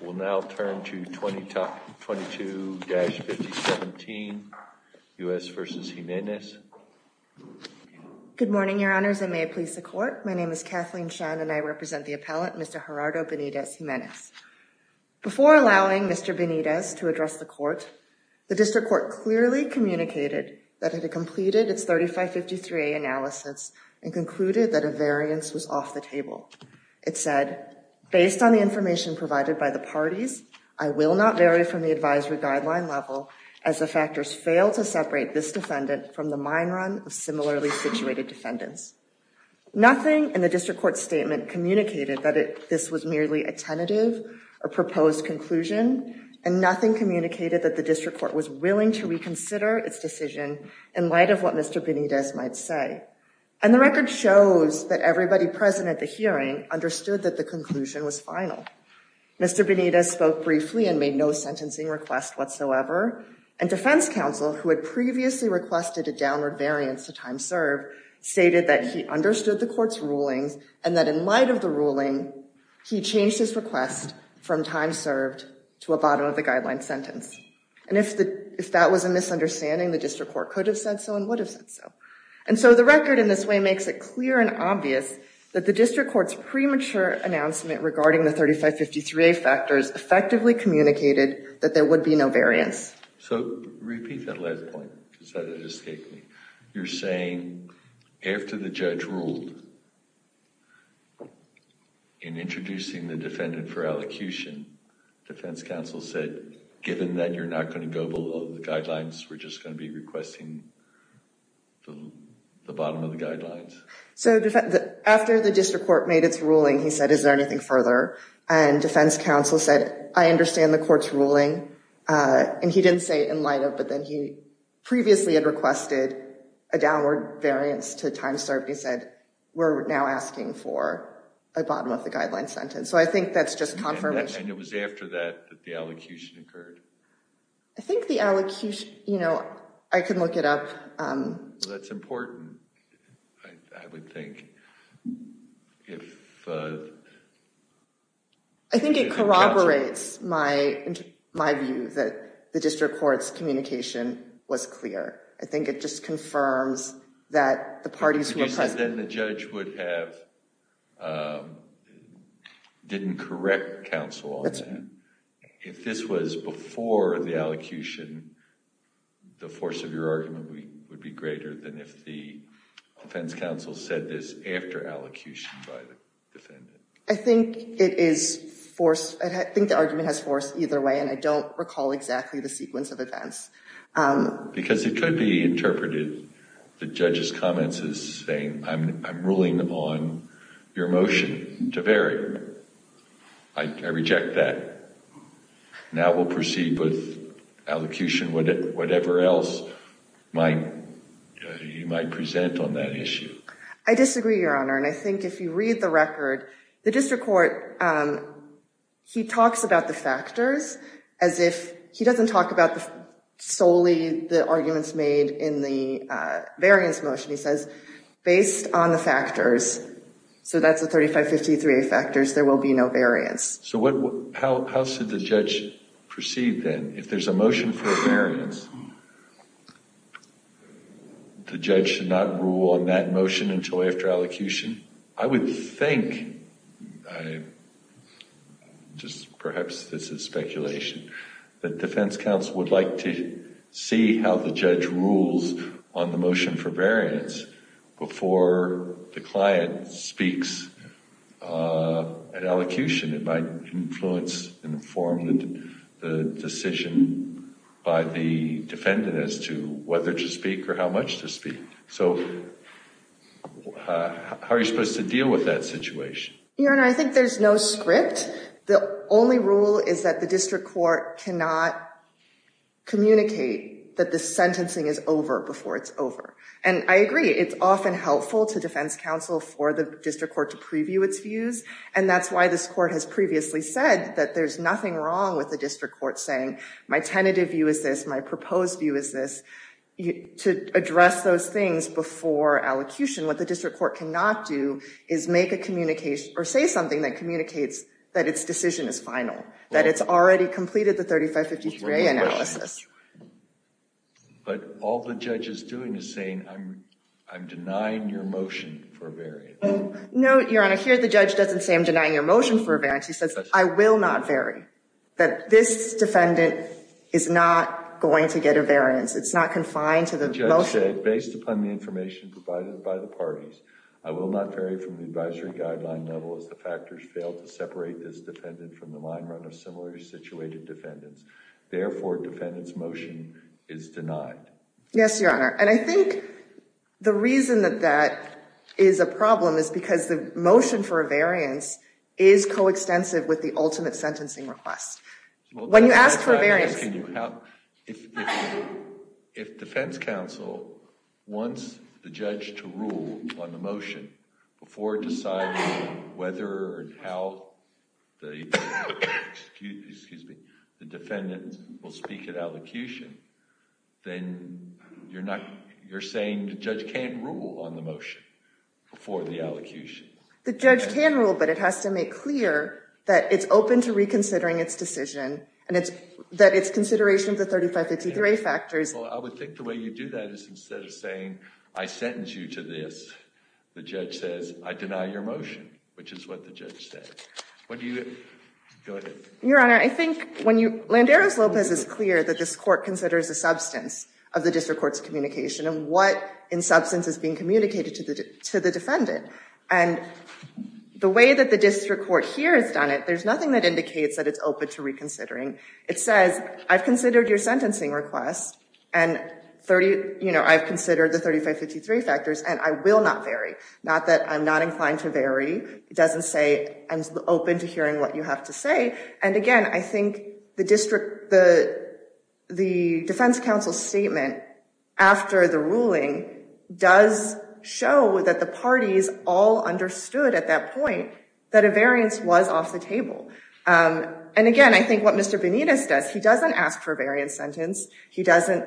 We'll now turn to 22-5017, U.S. v. Jimenez. Good morning, Your Honors, and may it please the Court, my name is Kathleen Shen and I represent the appellant, Mr. Gerardo Benitez Jimenez. Before allowing Mr. Benitez to address the Court, the District Court clearly communicated that it had completed its 3553A analysis and concluded that a variance was off the table. It said, based on the information provided by the parties, I will not vary from the advisory guideline level as the factors fail to separate this defendant from the mine run of similarly situated defendants. Nothing in the District Court's statement communicated that this was merely a tentative or proposed conclusion, and nothing communicated that the District Court was willing to reconsider its decision in light of what Mr. Benitez might say. And the record shows that everybody present at the hearing understood that the conclusion was final. Mr. Benitez spoke briefly and made no sentencing request whatsoever, and defense counsel, who had previously requested a downward variance to time served, stated that he understood the Court's rulings and that in light of the ruling, he changed his request from time served to a bottom of the guideline sentence. And if that was a misunderstanding, the District Court could have said so and would have said so. And so the record in this way makes it clear and obvious that the District Court's premature announcement regarding the 3553A factors effectively communicated that there would be no variance. So repeat that last point, because that escaped me. You're saying after the judge ruled in introducing the defendant for elocution, defense counsel said given that you're not going to go below the guidelines, we're just going to be requesting the bottom of the guidelines? So after the District Court made its ruling, he said, is there anything further? And defense counsel said, I understand the Court's ruling. And he didn't say in light of, but then he previously had requested a downward variance to time served. He said, we're now asking for a bottom of the guideline sentence. So I think that's just confirmation. And it was after that that the elocution occurred? I think the elocution, you know, I can look it up. That's important, I would think. I think it corroborates my view that the District Court's communication was clear. I think it just confirms that the parties who were present. But you said then the judge would have, didn't correct counsel on that. And if this was before the elocution, the force of your argument would be greater than if the defense counsel said this after elocution by the defendant. I think it is force, I think the argument has force either way and I don't recall exactly the sequence of events. Because it could be interpreted, the judge's comments as saying, I'm ruling on your motion to vary. I reject that. Now we'll proceed with elocution, whatever else you might present on that issue. I disagree, Your Honor. And I think if you read the record, the District Court, he talks about the factors as if, he doesn't talk about solely the arguments made in the variance motion, he says, based on the factors, so that's the 3553A factors, there will be no variance. So how should the judge proceed then, if there's a motion for a variance, the judge should not rule on that motion until after elocution? I would think, just perhaps this is speculation, that defense counsel would like to see how the judge rules on the motion for variance before the client speaks at elocution. It might influence and inform the decision by the defendant as to whether to speak or how much to speak. So how are you supposed to deal with that situation? Your Honor, I think there's no script. The only rule is that the District Court cannot communicate that the sentencing is over before it's over. And I agree, it's often helpful to defense counsel for the District Court to preview its views, and that's why this Court has previously said that there's nothing wrong with the District Court saying, my tentative view is this, my proposed view is this, to address those things before elocution. What the District Court cannot do is make a communication, or say something that communicates that its decision is final, that it's already completed the 3553A analysis. But all the judge is doing is saying, I'm denying your motion for a variance. No, Your Honor, here the judge doesn't say I'm denying your motion for a variance, he says, I will not vary, that this defendant is not going to get a variance, it's not confined to the motion. He said, based upon the information provided by the parties, I will not vary from the advisory guideline level as the factors fail to separate this defendant from the line run of similarly situated defendants. Therefore, defendant's motion is denied. Yes, Your Honor, and I think the reason that that is a problem is because the motion for a variance is coextensive with the ultimate sentencing request. When you ask for a variance, can you have, if defense counsel wants the judge to rule on the motion before deciding whether or how the defendant will speak at elocution, then you're saying the judge can't rule on the motion before the elocution? The judge can rule, but it has to make clear that it's open to reconsidering its decision and that it's consideration of the 3553 factors. I would think the way you do that is instead of saying, I sentence you to this, the judge says, I deny your motion, which is what the judge said. Your Honor, I think when you, Landeros-Lopez is clear that this court considers the substance of the district court's communication and what, in substance, is being communicated to the defendant. And the way that the district court here has done it, there's nothing that indicates that it's open to reconsidering. It says, I've considered your sentencing request, and I've considered the 3553 factors, and I will not vary. Not that I'm not inclined to vary, it doesn't say I'm open to hearing what you have to say. And again, I think the defense counsel statement after the ruling does show that the parties all understood at that point that a variance was off the table. And again, I think what Mr. Benitez does, he doesn't ask for a variance sentence. He doesn't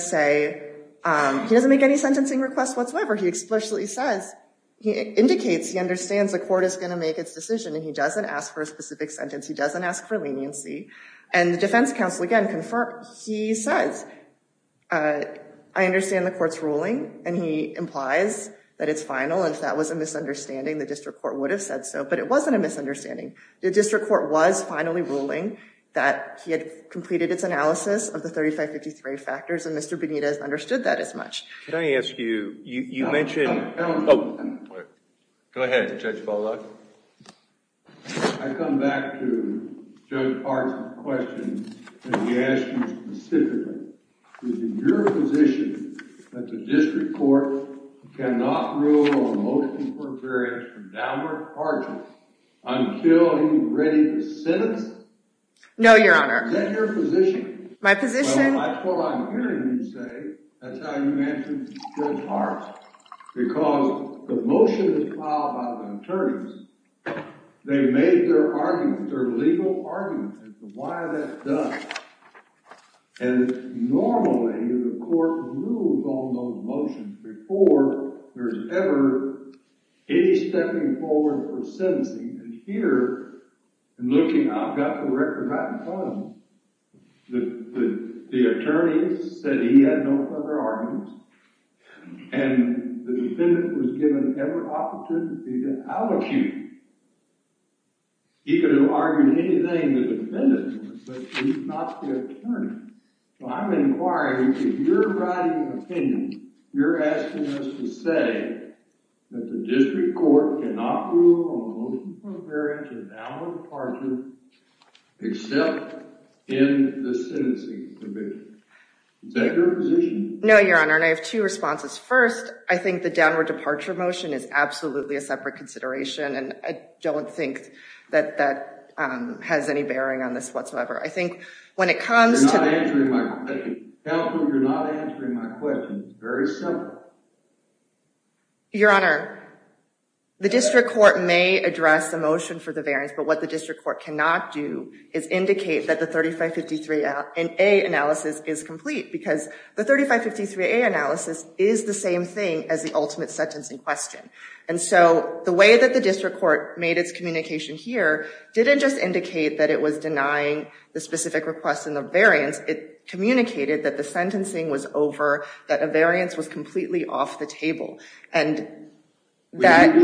say, he doesn't make any sentencing requests whatsoever. He explicitly says, he indicates, he understands the court is going to make its decision, and he doesn't ask for a specific sentence. He doesn't ask for leniency. And the defense counsel, again, he says, I understand the court's ruling, and he implies that it's final, and if that was a misunderstanding, the district court would have said so. But it wasn't a misunderstanding. The district court was finally ruling that he had completed its analysis of the 3553 factors, and Mr. Benitez understood that as much. Can I ask you, you mentioned... Go ahead, Judge Bollock. I come back to Judge Hart's question, and he asked me specifically, is it your position that the district court cannot rule on motion for a variance from downward parties until he's ready to sentence? No, Your Honor. Is that your position? My position... That's what I'm hearing you say. That's how you mentioned Judge Hart. Because the motion is filed by the attorneys. They made their arguments, their legal arguments as to why that does. And normally, the court rules on those motions before there's ever any stepping forward for sentencing. And here, I'm looking, I've got the record right in front of me. The attorney said he had no further arguments, and the defendant was given every opportunity to allocate. He could have argued anything the defendant was, but he's not the attorney. So I'm inquiring, if you're writing an opinion, you're asking us to say that the district court cannot rule on the motion for a variance from downward parties until he's ready to sentence. Is that your position? No, Your Honor. And I have two responses. First, I think the downward departure motion is absolutely a separate consideration, and I don't think that that has any bearing on this whatsoever. I think when it comes to... You're not answering my question. Counsel, you're not answering my question. It's very simple. Your Honor, the district court may address a motion for the variance, but what the district court cannot do is indicate that the 3553A analysis is complete, because the 3553A analysis is the same thing as the ultimate sentencing question. And so the way that the district court made its communication here didn't just indicate that it was denying the specific request in the variance. It communicated that the sentencing was over, that a variance was completely off the table. And that...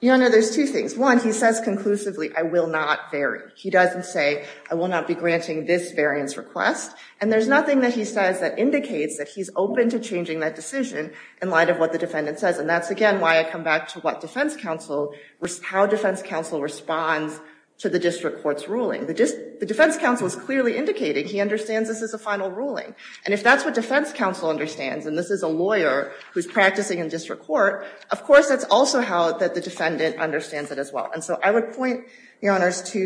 Your Honor, there's two things. One, he says conclusively, I will not vary. He doesn't say, I will not be granting this variance request. And there's nothing that he says that indicates that he's open to changing that decision in light of what the defendant says. And that's, again, why I come back to what defense counsel... how defense counsel responds to the district court's ruling. The defense counsel is clearly indicating he understands this is a final ruling. And if that's what defense counsel understands, and this is a lawyer who's practicing in district court, of course that's also how that the defendant understands it as well. And so I would point, Your Honors, to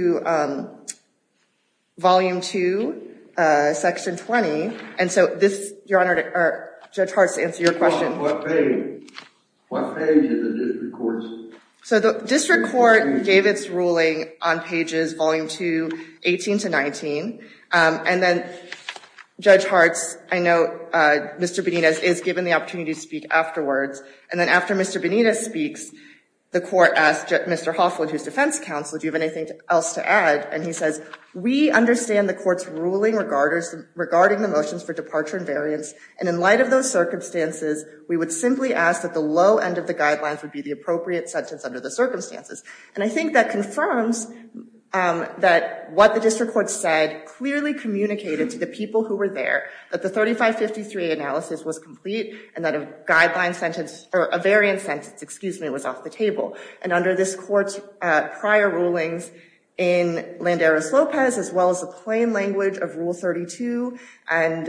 Volume 2, Section 20. And so this, Your Honor... Judge Hart, to answer your question... What page? What page in the district court's... So the district court gave its ruling on pages Volume 2, 18 to 19. And then Judge Hart's... I know Mr. Benitez is given the opportunity to speak afterwards. And then after Mr. Benitez speaks, the court asked Mr. Hoffman, who's defense counsel, do you have anything else to add? And he says, we understand the court's ruling regarding the motions for departure and variance. And in light of those circumstances, we would simply ask that the low end of the guidelines would be the appropriate sentence under the circumstances. And I think that confirms that what the district court said clearly communicated to the people who were there, that the 3553 analysis was complete, and that a guideline sentence... or a variance sentence, excuse me, was off the table. And under this court's prior rulings in Landeros-Lopez, as well as the plain language of Rule 32 and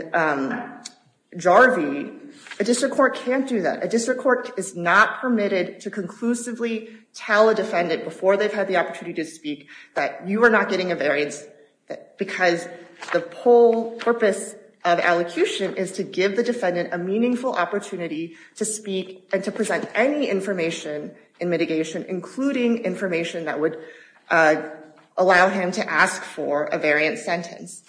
Jarvie, a district court can't do that. A district court is not permitted to conclusively tell a defendant before they've had the opportunity to speak that you are not getting a variance, because the whole purpose of elocution is to give the defendant a meaningful opportunity to speak and to present any information in mitigation, including information that would allow him to ask for a variance sentence.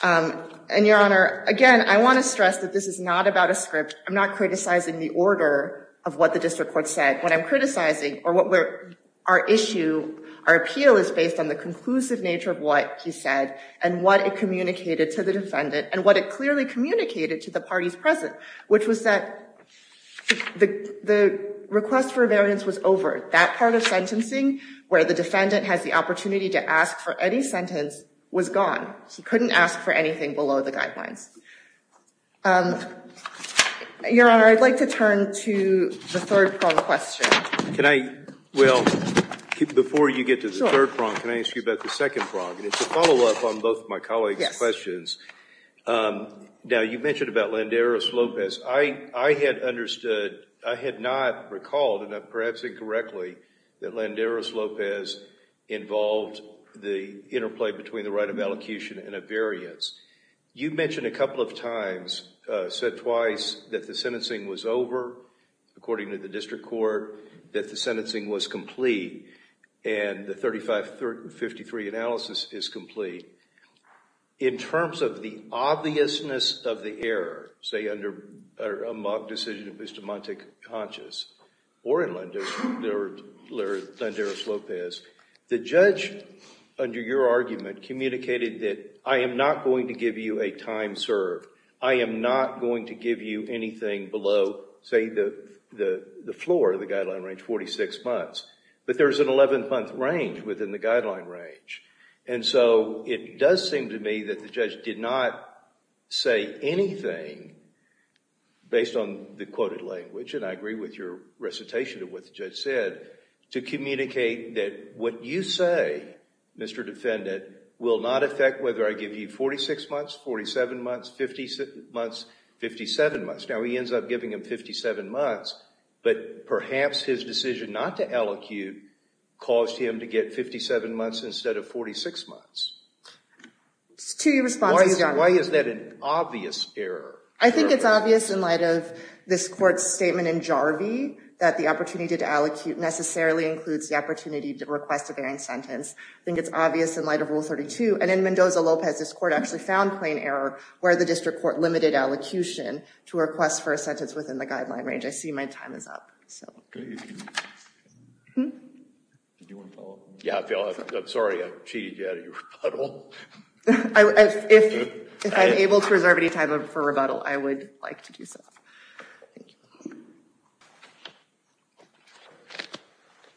And Your Honor, again, I want to stress that this is not about a script. I'm not criticizing the order of what the district court said. What I'm criticizing, or what we're... our issue, our appeal is based on the conclusive nature of what he said, and what it communicated to the defendant, and what it clearly communicated to the parties present, which was that the request for a variance was over. That part of sentencing where the defendant has the opportunity to ask for any sentence was gone. He couldn't ask for anything below the guidelines. Your Honor, I'd like to turn to the third prong question. Can I... well, before you get to the third prong, can I ask you about the second prong? And it's a follow-up on both of my colleagues' questions. Now, you mentioned about Landeros-Lopez. I had understood... I had not recalled, and perhaps incorrectly, that Landeros-Lopez involved the interplay between the right of elocution and a variance. You mentioned a couple of times, said twice, that the sentencing was over, according to the district court, that the sentencing was complete, and the 3553 analysis is complete. In terms of the obviousness of the error, say under a mock decision of Bustamante-Contras, or in Landeros-Lopez, the judge, under your argument, communicated that I am not going to give you a time served. I am not going to give you anything below, say, the floor, the guideline range, 46 months. But there's an 11-month range within the guideline range. And so, it does seem to me that the judge did not say anything, based on the quoted language, and I agree with your recitation of what the judge said, to communicate that what you say, Mr. Defendant, will not affect whether I give you 46 months, 47 months, 50 months, 57 months. Now, he ends up giving him 57 months, but perhaps his decision not to elocute caused him to get 57 months instead of 46 months. It's two responses, Your Honor. Why is that an obvious error? I think it's obvious, in light of this Court's statement in Jarvie, that the opportunity to elocute necessarily includes the opportunity to request a varying sentence. I think it's obvious, in light of Rule 32, and in Mendoza-Lopez, this Court actually found plain error, where the district court limited elocution to request for a sentence within the guideline range. I see my time is up. Do you want to follow up? Yeah, Phil, I'm sorry. I cheated you out of your rebuttal. If I'm able to reserve any time for rebuttal, I would like to do so.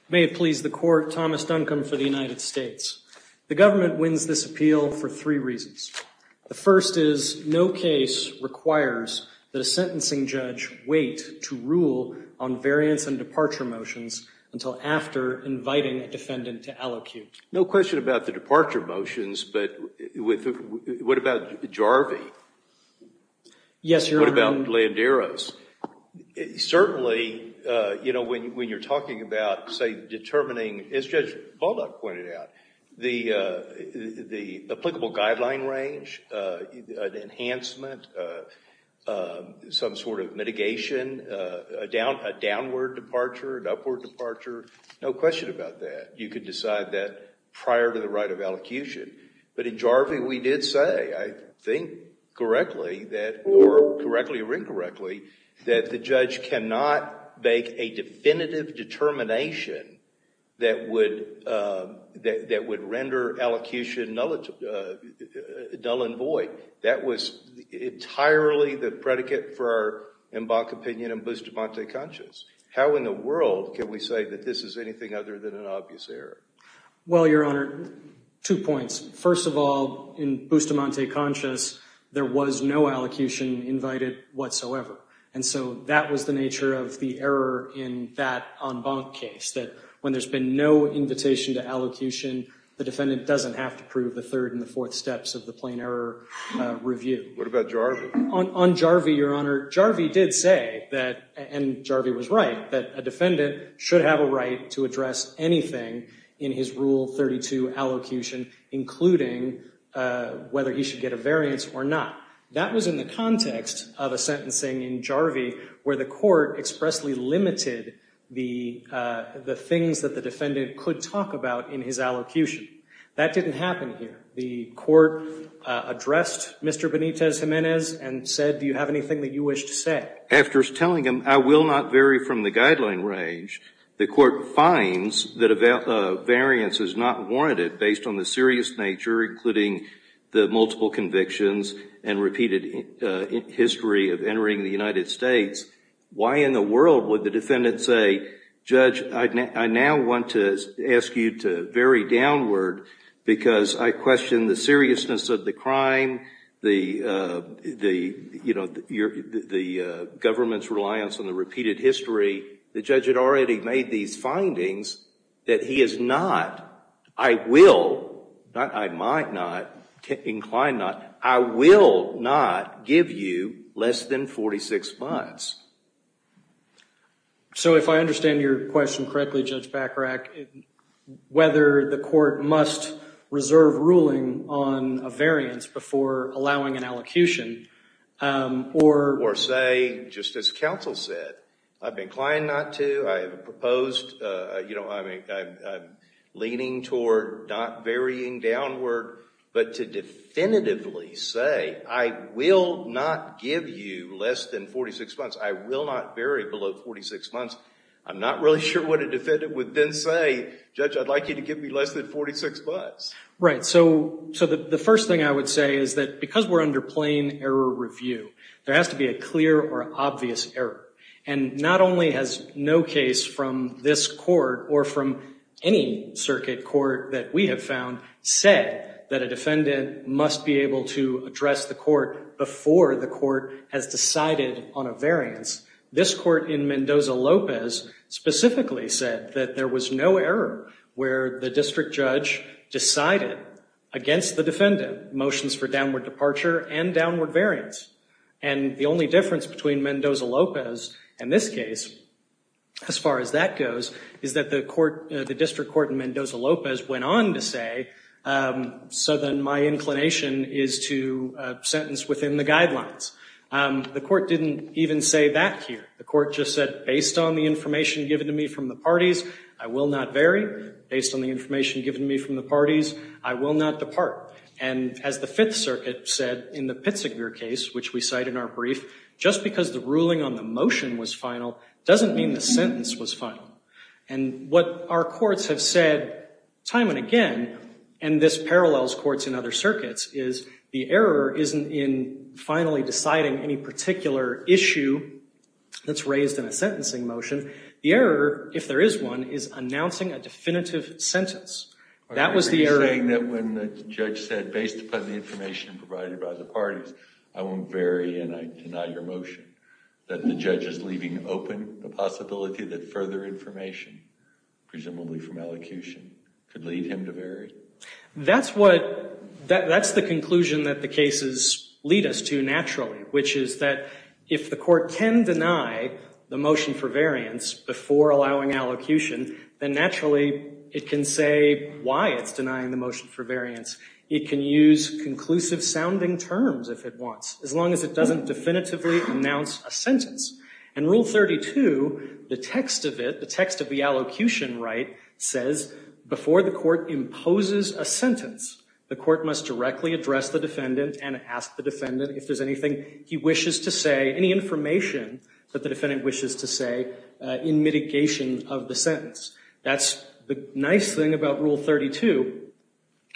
May it please the Court, Thomas Duncombe for the United States. The government wins this appeal for three reasons. The first is, no case requires that a sentencing judge wait to rule on variance and departure motions until after inviting a defendant to elocute. No question about the departure motions, but what about Jarvie? Yes, Your Honor. What about Landeros? Certainly, when you're talking about determining, as Judge Baldock pointed out, the applicable guideline range, an enhancement, some sort of mitigation, a downward departure, an upward departure, no question about that. You could decide that prior to the right of elocution, but in Jarvie, we did say, I think correctly that, or correctly or incorrectly, that the judge cannot make a definitive determination that would render elocution null and void. That was entirely the predicate for our Embarc opinion and Bustamante conscience. How in the world can we say that this is anything other than an obvious error? Well, Your Honor, two points. First of all, in Bustamante conscience, there was no elocution invited whatsoever, and so that was the nature of the error in that Embarc case, that when there's been no invitation to elocution, the defendant doesn't have to prove the third and the fourth steps of the plain error review. What about Jarvie? On Jarvie, Your Honor, Jarvie did say that, and Jarvie was right, that a defendant should have a right to address anything in his Rule 32 elocution, including whether he should get a variance or not. That was in the context of a sentencing in Jarvie where the court expressly limited the things that the defendant could talk about in his elocution. That didn't happen here. The court addressed Mr. Benitez-Gimenez and said, do you have anything that you wish to say? After telling him, I will not vary from the guideline range, the court finds that a variance is not warranted based on the serious nature, including the multiple convictions and repeated history of entering the United States. Why in the world would the defendant say, Judge, I now want to ask you to vary downward because I question the seriousness of the crime, the government's reliance on the repeated history. The judge had already made these findings that he is not, I will, I might not, I incline not, I will not give you less than 46 months. So, if I understand your question correctly, Judge Bachrach, whether the court must reserve ruling on a variance before allowing an elocution, or... Or say, just as counsel said, I've inclined not to, I've proposed, you know, I'm leaning toward not varying downward, but to definitively say, I will not give you less than 46 months. I will not vary below 46 months. I'm not really sure what a defendant would then say, Judge, I'd like you to give me less than 46 months. Right. So, the first thing I would say is that because we're under plain error review, there has to be a clear or obvious error. And not only has no case from this court or from any circuit court that we have found said that a defendant must be able to address the court before the court has decided on a variance, this court in Mendoza-Lopez specifically said that there was no error where the district judge decided against the defendant, motions for downward departure and downward variance. And the only difference between Mendoza-Lopez and this case, as far as that goes, is that the district court in Mendoza-Lopez went on to say, so then my inclination is to sentence within the guidelines. The court didn't even say that here. The court just said, based on the information given to me from the parties, I will not vary. Based on the information given to me from the parties, I will not depart. And as the Fifth Circuit said in the Pitziger case, which we cite in our brief, just because the ruling on the motion was final doesn't mean the sentence was final. And what our courts have said time and again, and this parallels courts in other circuits, is the error isn't in finally deciding any particular issue that's raised in a sentencing motion. The error, if there is one, is announcing a definitive sentence. That was the error. Are you saying that when the judge said, based upon the information provided by the parties, I won't vary and I deny your motion, that the judge is leaving open the possibility that further information, presumably from elocution, could lead him to vary? That's the conclusion that the cases lead us to naturally, which is that if the court can deny the motion for variance before allowing elocution, then naturally it can say why it's denying the motion for variance. It can use conclusive-sounding terms if it wants, as long as it doesn't definitively announce a sentence. And Rule 32, the text of it, the text of the elocution right, says before the court imposes a sentence, the court must directly address the defendant and ask the defendant if there's anything he wishes to say, any information that the defendant wishes to say in mitigation of the sentence. That's the nice thing about Rule 32.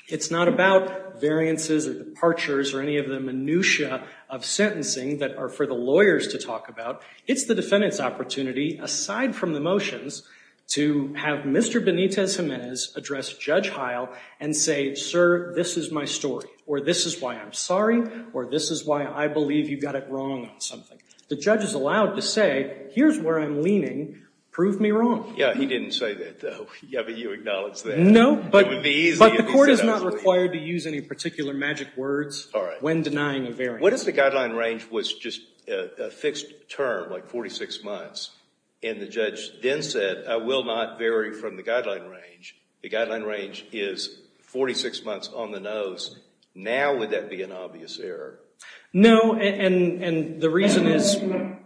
It's not about variances or departures or any of the minutia of sentencing that are for the lawyers to talk about. It's the defendant's opportunity, aside from the motions, to have Mr. Benitez-Gimenez address Judge Heil and say, sir, this is my story, or this is why I'm sorry, or this is why I believe you got it wrong on something. The judge is allowed to say, here's where I'm leaning. Prove me wrong. Yeah, he didn't say that, though. Yeah, but you acknowledge that. No, but the court is not required to use any particular magic words when denying a variance. What if the guideline range was just a fixed term, like 46 months, and the judge then said, I will not vary from the guideline range. The guideline range is 46 months on the nose. Now would that be an obvious error? No, and the reason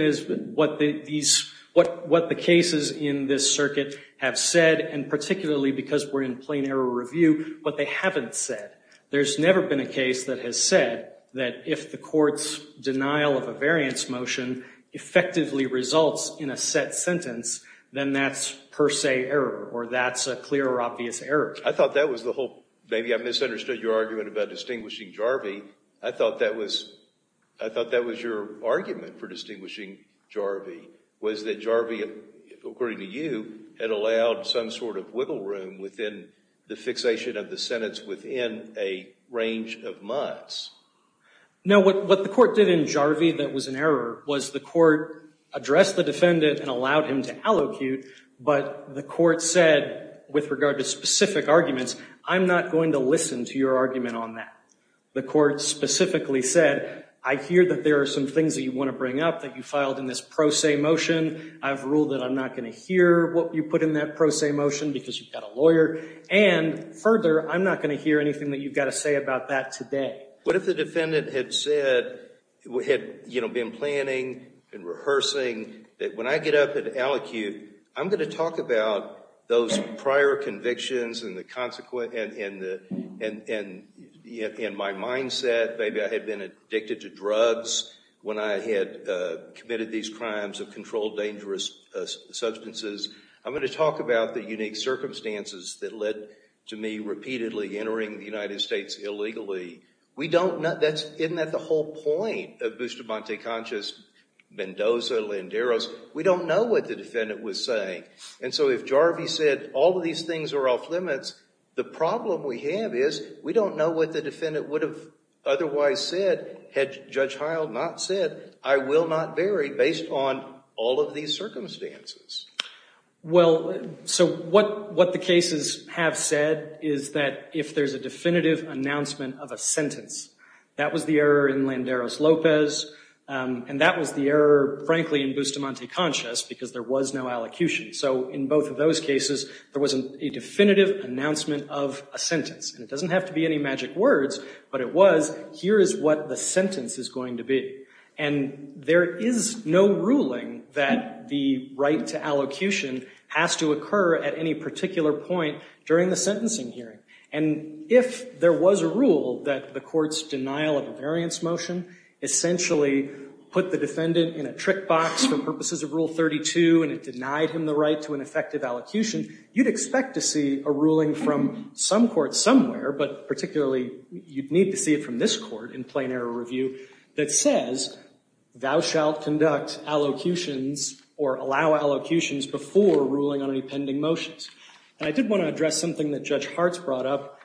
is what the cases in this circuit have said, and particularly because we're in plain error review, what they haven't said. There's never been a case that has said that if the court's denial of a variance motion effectively results in a set sentence, then that's per se error, or that's a clear or obvious error. I thought that was the whole, maybe I misunderstood your argument about distinguishing Jarvee. I thought that was your argument for distinguishing Jarvee, was that Jarvee, according to you, had allowed some sort of wiggle room within the fixation of the sentence within a range of months. No, what the court did in Jarvee that was an error was the court addressed the defendant and allowed him to allocute, but the court said, with regard to specific arguments, I'm not going to listen to your argument on that. The court specifically said, I hear that there are some things that you want to bring up that you filed in this pro se motion. I've ruled that I'm not going to hear what you put in that pro se motion because you've got a lawyer, and further, I'm not going to hear anything that you've got to say about that today. What if the defendant had said, had been planning and rehearsing that when I get up and allocute, I'm going to talk about those prior convictions and my mindset, maybe I had been addicted to drugs when I had committed these crimes of controlled dangerous substances, I'm going to talk about the unique circumstances that led to me repeatedly entering the United States illegally. Isn't that the whole point of Bustamante Conscious, Mendoza, Landeros? We don't know what the defendant was saying, and so if Jarvee said, all of these things are off limits, the problem we have is we don't know what the defendant would have otherwise said had Judge Heil not said, I will not vary based on all of these circumstances. Well, so what the cases have said is that if there's a definitive announcement of a sentence, that was the error in Landeros-Lopez, and that was the error, frankly, in Bustamante Conscious because there was no allocution. So in both of those cases, there was a definitive announcement of a sentence, and it doesn't is what the sentence is going to be, and there is no ruling that the right to allocution has to occur at any particular point during the sentencing hearing. And if there was a rule that the court's denial of a variance motion essentially put the defendant in a trick box for purposes of Rule 32 and it denied him the right to an effective allocution, you'd expect to see a ruling from some court somewhere, but particularly you'd need to see it from this court in plain error review that says, thou shalt conduct allocutions or allow allocutions before ruling on any pending motions. And I did want to address something that Judge Hartz brought up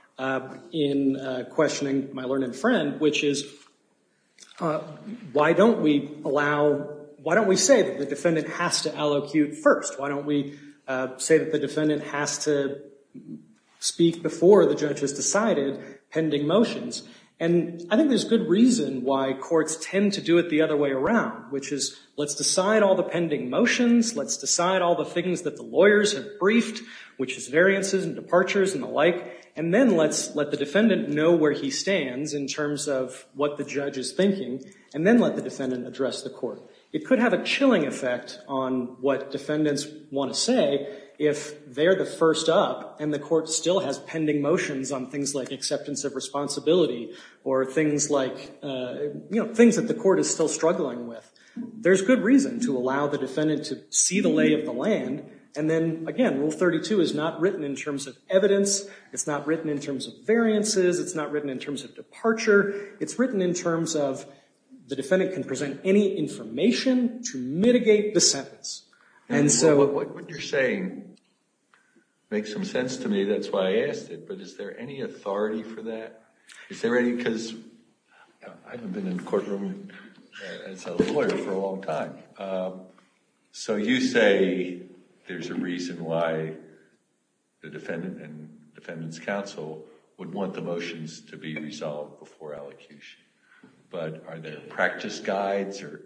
in questioning my learned friend, which is, why don't we allow, why don't we say that the defendant has to allocute first? Why don't we say that the defendant has to speak before the judge has decided pending motions? And I think there's good reason why courts tend to do it the other way around, which is, let's decide all the pending motions, let's decide all the things that the lawyers have briefed, which is variances and departures and the like, and then let's let the defendant know where he stands in terms of what the judge is thinking, and then let the defendant address the court. It could have a chilling effect on what defendants want to say if they're the first up and the or things like, you know, things that the court is still struggling with. There's good reason to allow the defendant to see the lay of the land. And then, again, Rule 32 is not written in terms of evidence. It's not written in terms of variances. It's not written in terms of departure. It's written in terms of the defendant can present any information to mitigate the sentence. And so... What you're saying makes some sense to me. That's why I asked it. But is there any authority for that? Is there any... Because I haven't been in a courtroom as a lawyer for a long time. So you say there's a reason why the defendant and defendant's counsel would want the motions to be resolved before allocution. But are there practice guides or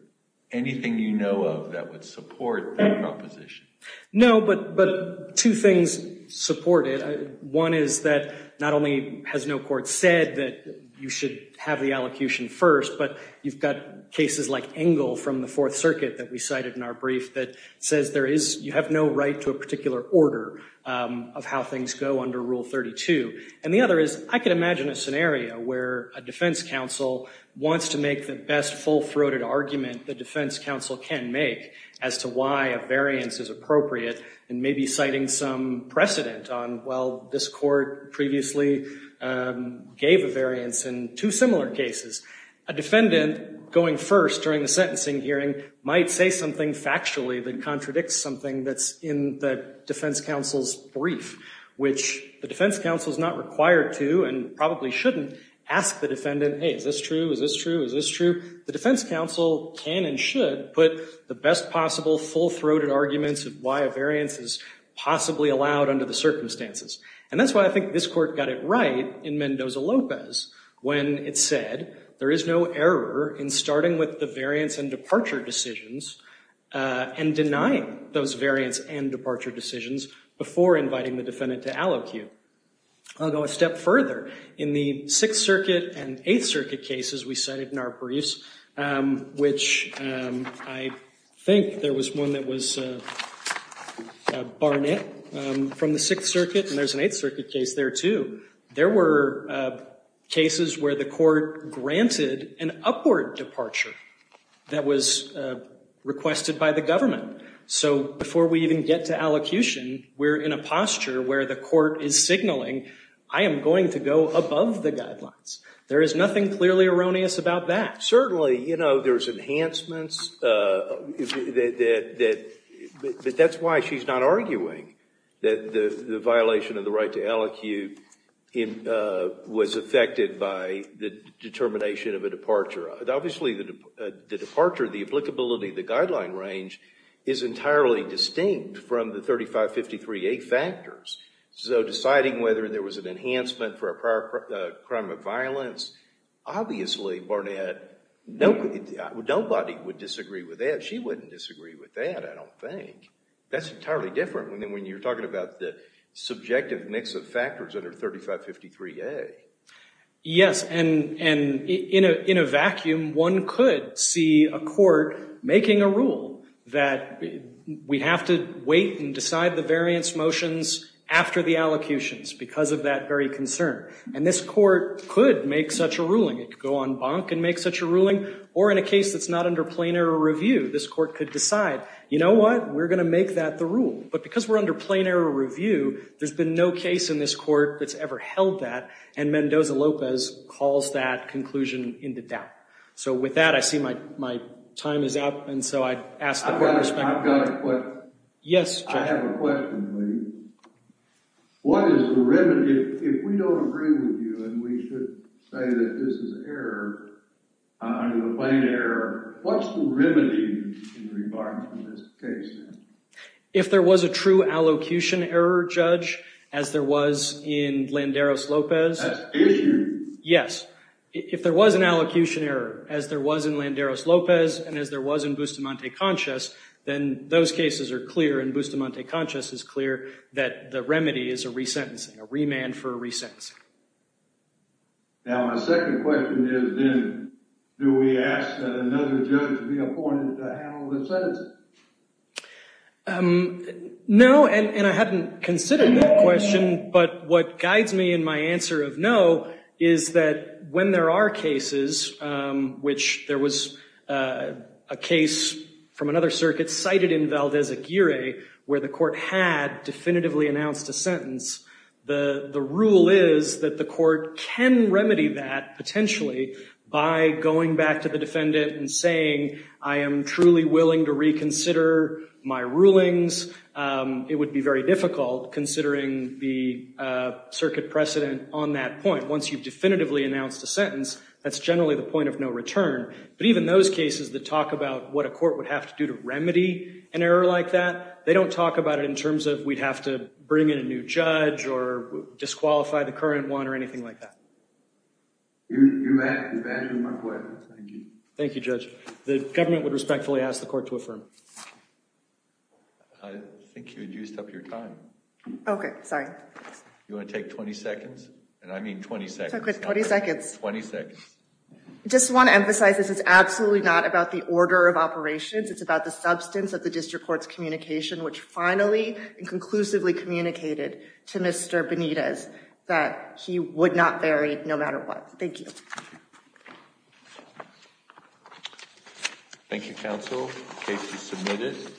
anything you know of that would support that proposition? No, but two things support it. One is that not only has no court said that you should have the allocution first, but you've got cases like Engle from the Fourth Circuit that we cited in our brief that says you have no right to a particular order of how things go under Rule 32. And the other is I could imagine a scenario where a defense counsel wants to make the best full-throated argument the defense counsel can make as to why a variance is appropriate and maybe citing some precedent on, well, this court previously gave a variance in two similar cases. A defendant going first during the sentencing hearing might say something factually that contradicts something that's in the defense counsel's brief, which the defense counsel is not required to and probably shouldn't ask the defendant, hey, is this true, is this true, is this true? The defense counsel can and should put the best possible full-throated arguments in the sense of why a variance is possibly allowed under the circumstances. And that's why I think this court got it right in Mendoza-Lopez when it said there is no error in starting with the variance and departure decisions and denying those variance and departure decisions before inviting the defendant to allocue. I'll go a step further. In the Sixth Circuit and Eighth Circuit cases we cited in our briefs, which I think there was one that was Barnett from the Sixth Circuit, and there's an Eighth Circuit case there, too, there were cases where the court granted an upward departure that was requested by the government. So before we even get to allocution, we're in a posture where the court is signaling, I am going to go above the guidelines. There is nothing clearly erroneous about that. Certainly, you know, there's enhancements, but that's why she's not arguing that the violation of the right to allocute was affected by the determination of a departure. Obviously, the departure, the applicability, the guideline range is entirely distinct from the 3553A factors. So deciding whether there was an enhancement for a prior crime of violence, obviously, Barnett, nobody would disagree with that. She wouldn't disagree with that, I don't think. That's entirely different when you're talking about the subjective mix of factors under 3553A. Yes, and in a vacuum, one could see a court making a rule that we have to wait and decide the variance motions after the allocutions because of that very concern. And this court could make such a ruling. It could go on bonk and make such a ruling. Or in a case that's not under plain error review, this court could decide, you know what, we're going to make that the rule. But because we're under plain error review, there's been no case in this court that's ever held that, and Mendoza-Lopez calls that conclusion into doubt. So with that, I see my time is up, and so I ask the court to spend it. I've got a question. Yes, Judge. I have a question, Lee. What is the remedy, if we don't agree with you and we should say that this is error, under the plain error, what's the remedy in regards to this case? If there was a true allocution error, Judge, as there was in Landeros-Lopez. That's issued. Yes. If there was an allocution error, as there was in Landeros-Lopez and as there was in Bustamante-Conscius, then those cases are clear and Bustamante-Conscius is clear that the remedy is a resentencing, a remand for a resentencing. Now, my second question is then, do we ask another judge to be appointed to handle the sentencing? No, and I haven't considered that question, but what guides me in my answer of no is that when there are cases which there was a case from another circuit cited in Valdez-Aguirre where the court had definitively announced a sentence, the rule is that the court can remedy that potentially by going back to the defendant and saying, I am truly willing to reconsider my rulings. It would be very difficult considering the circuit precedent on that point. Once you've definitively announced a sentence, that's generally the point of no return, but even those cases that talk about what a court would have to do to remedy an error like that, they don't talk about it in terms of we'd have to bring in a new judge or disqualify the current one or anything like that. You've answered my question. Thank you. Thank you, Judge. The government would respectfully ask the court to affirm. I think you had used up your time. Okay, sorry. You want to take 20 seconds? And I mean 20 seconds. Okay, 20 seconds. 20 seconds. I just want to emphasize this is absolutely not about the order of operations. It's about the substance of the district court's communication, which finally and conclusively communicated to Mr. Benitez that he would not vary no matter what. Thank you. Thank you, counsel. Case is submitted.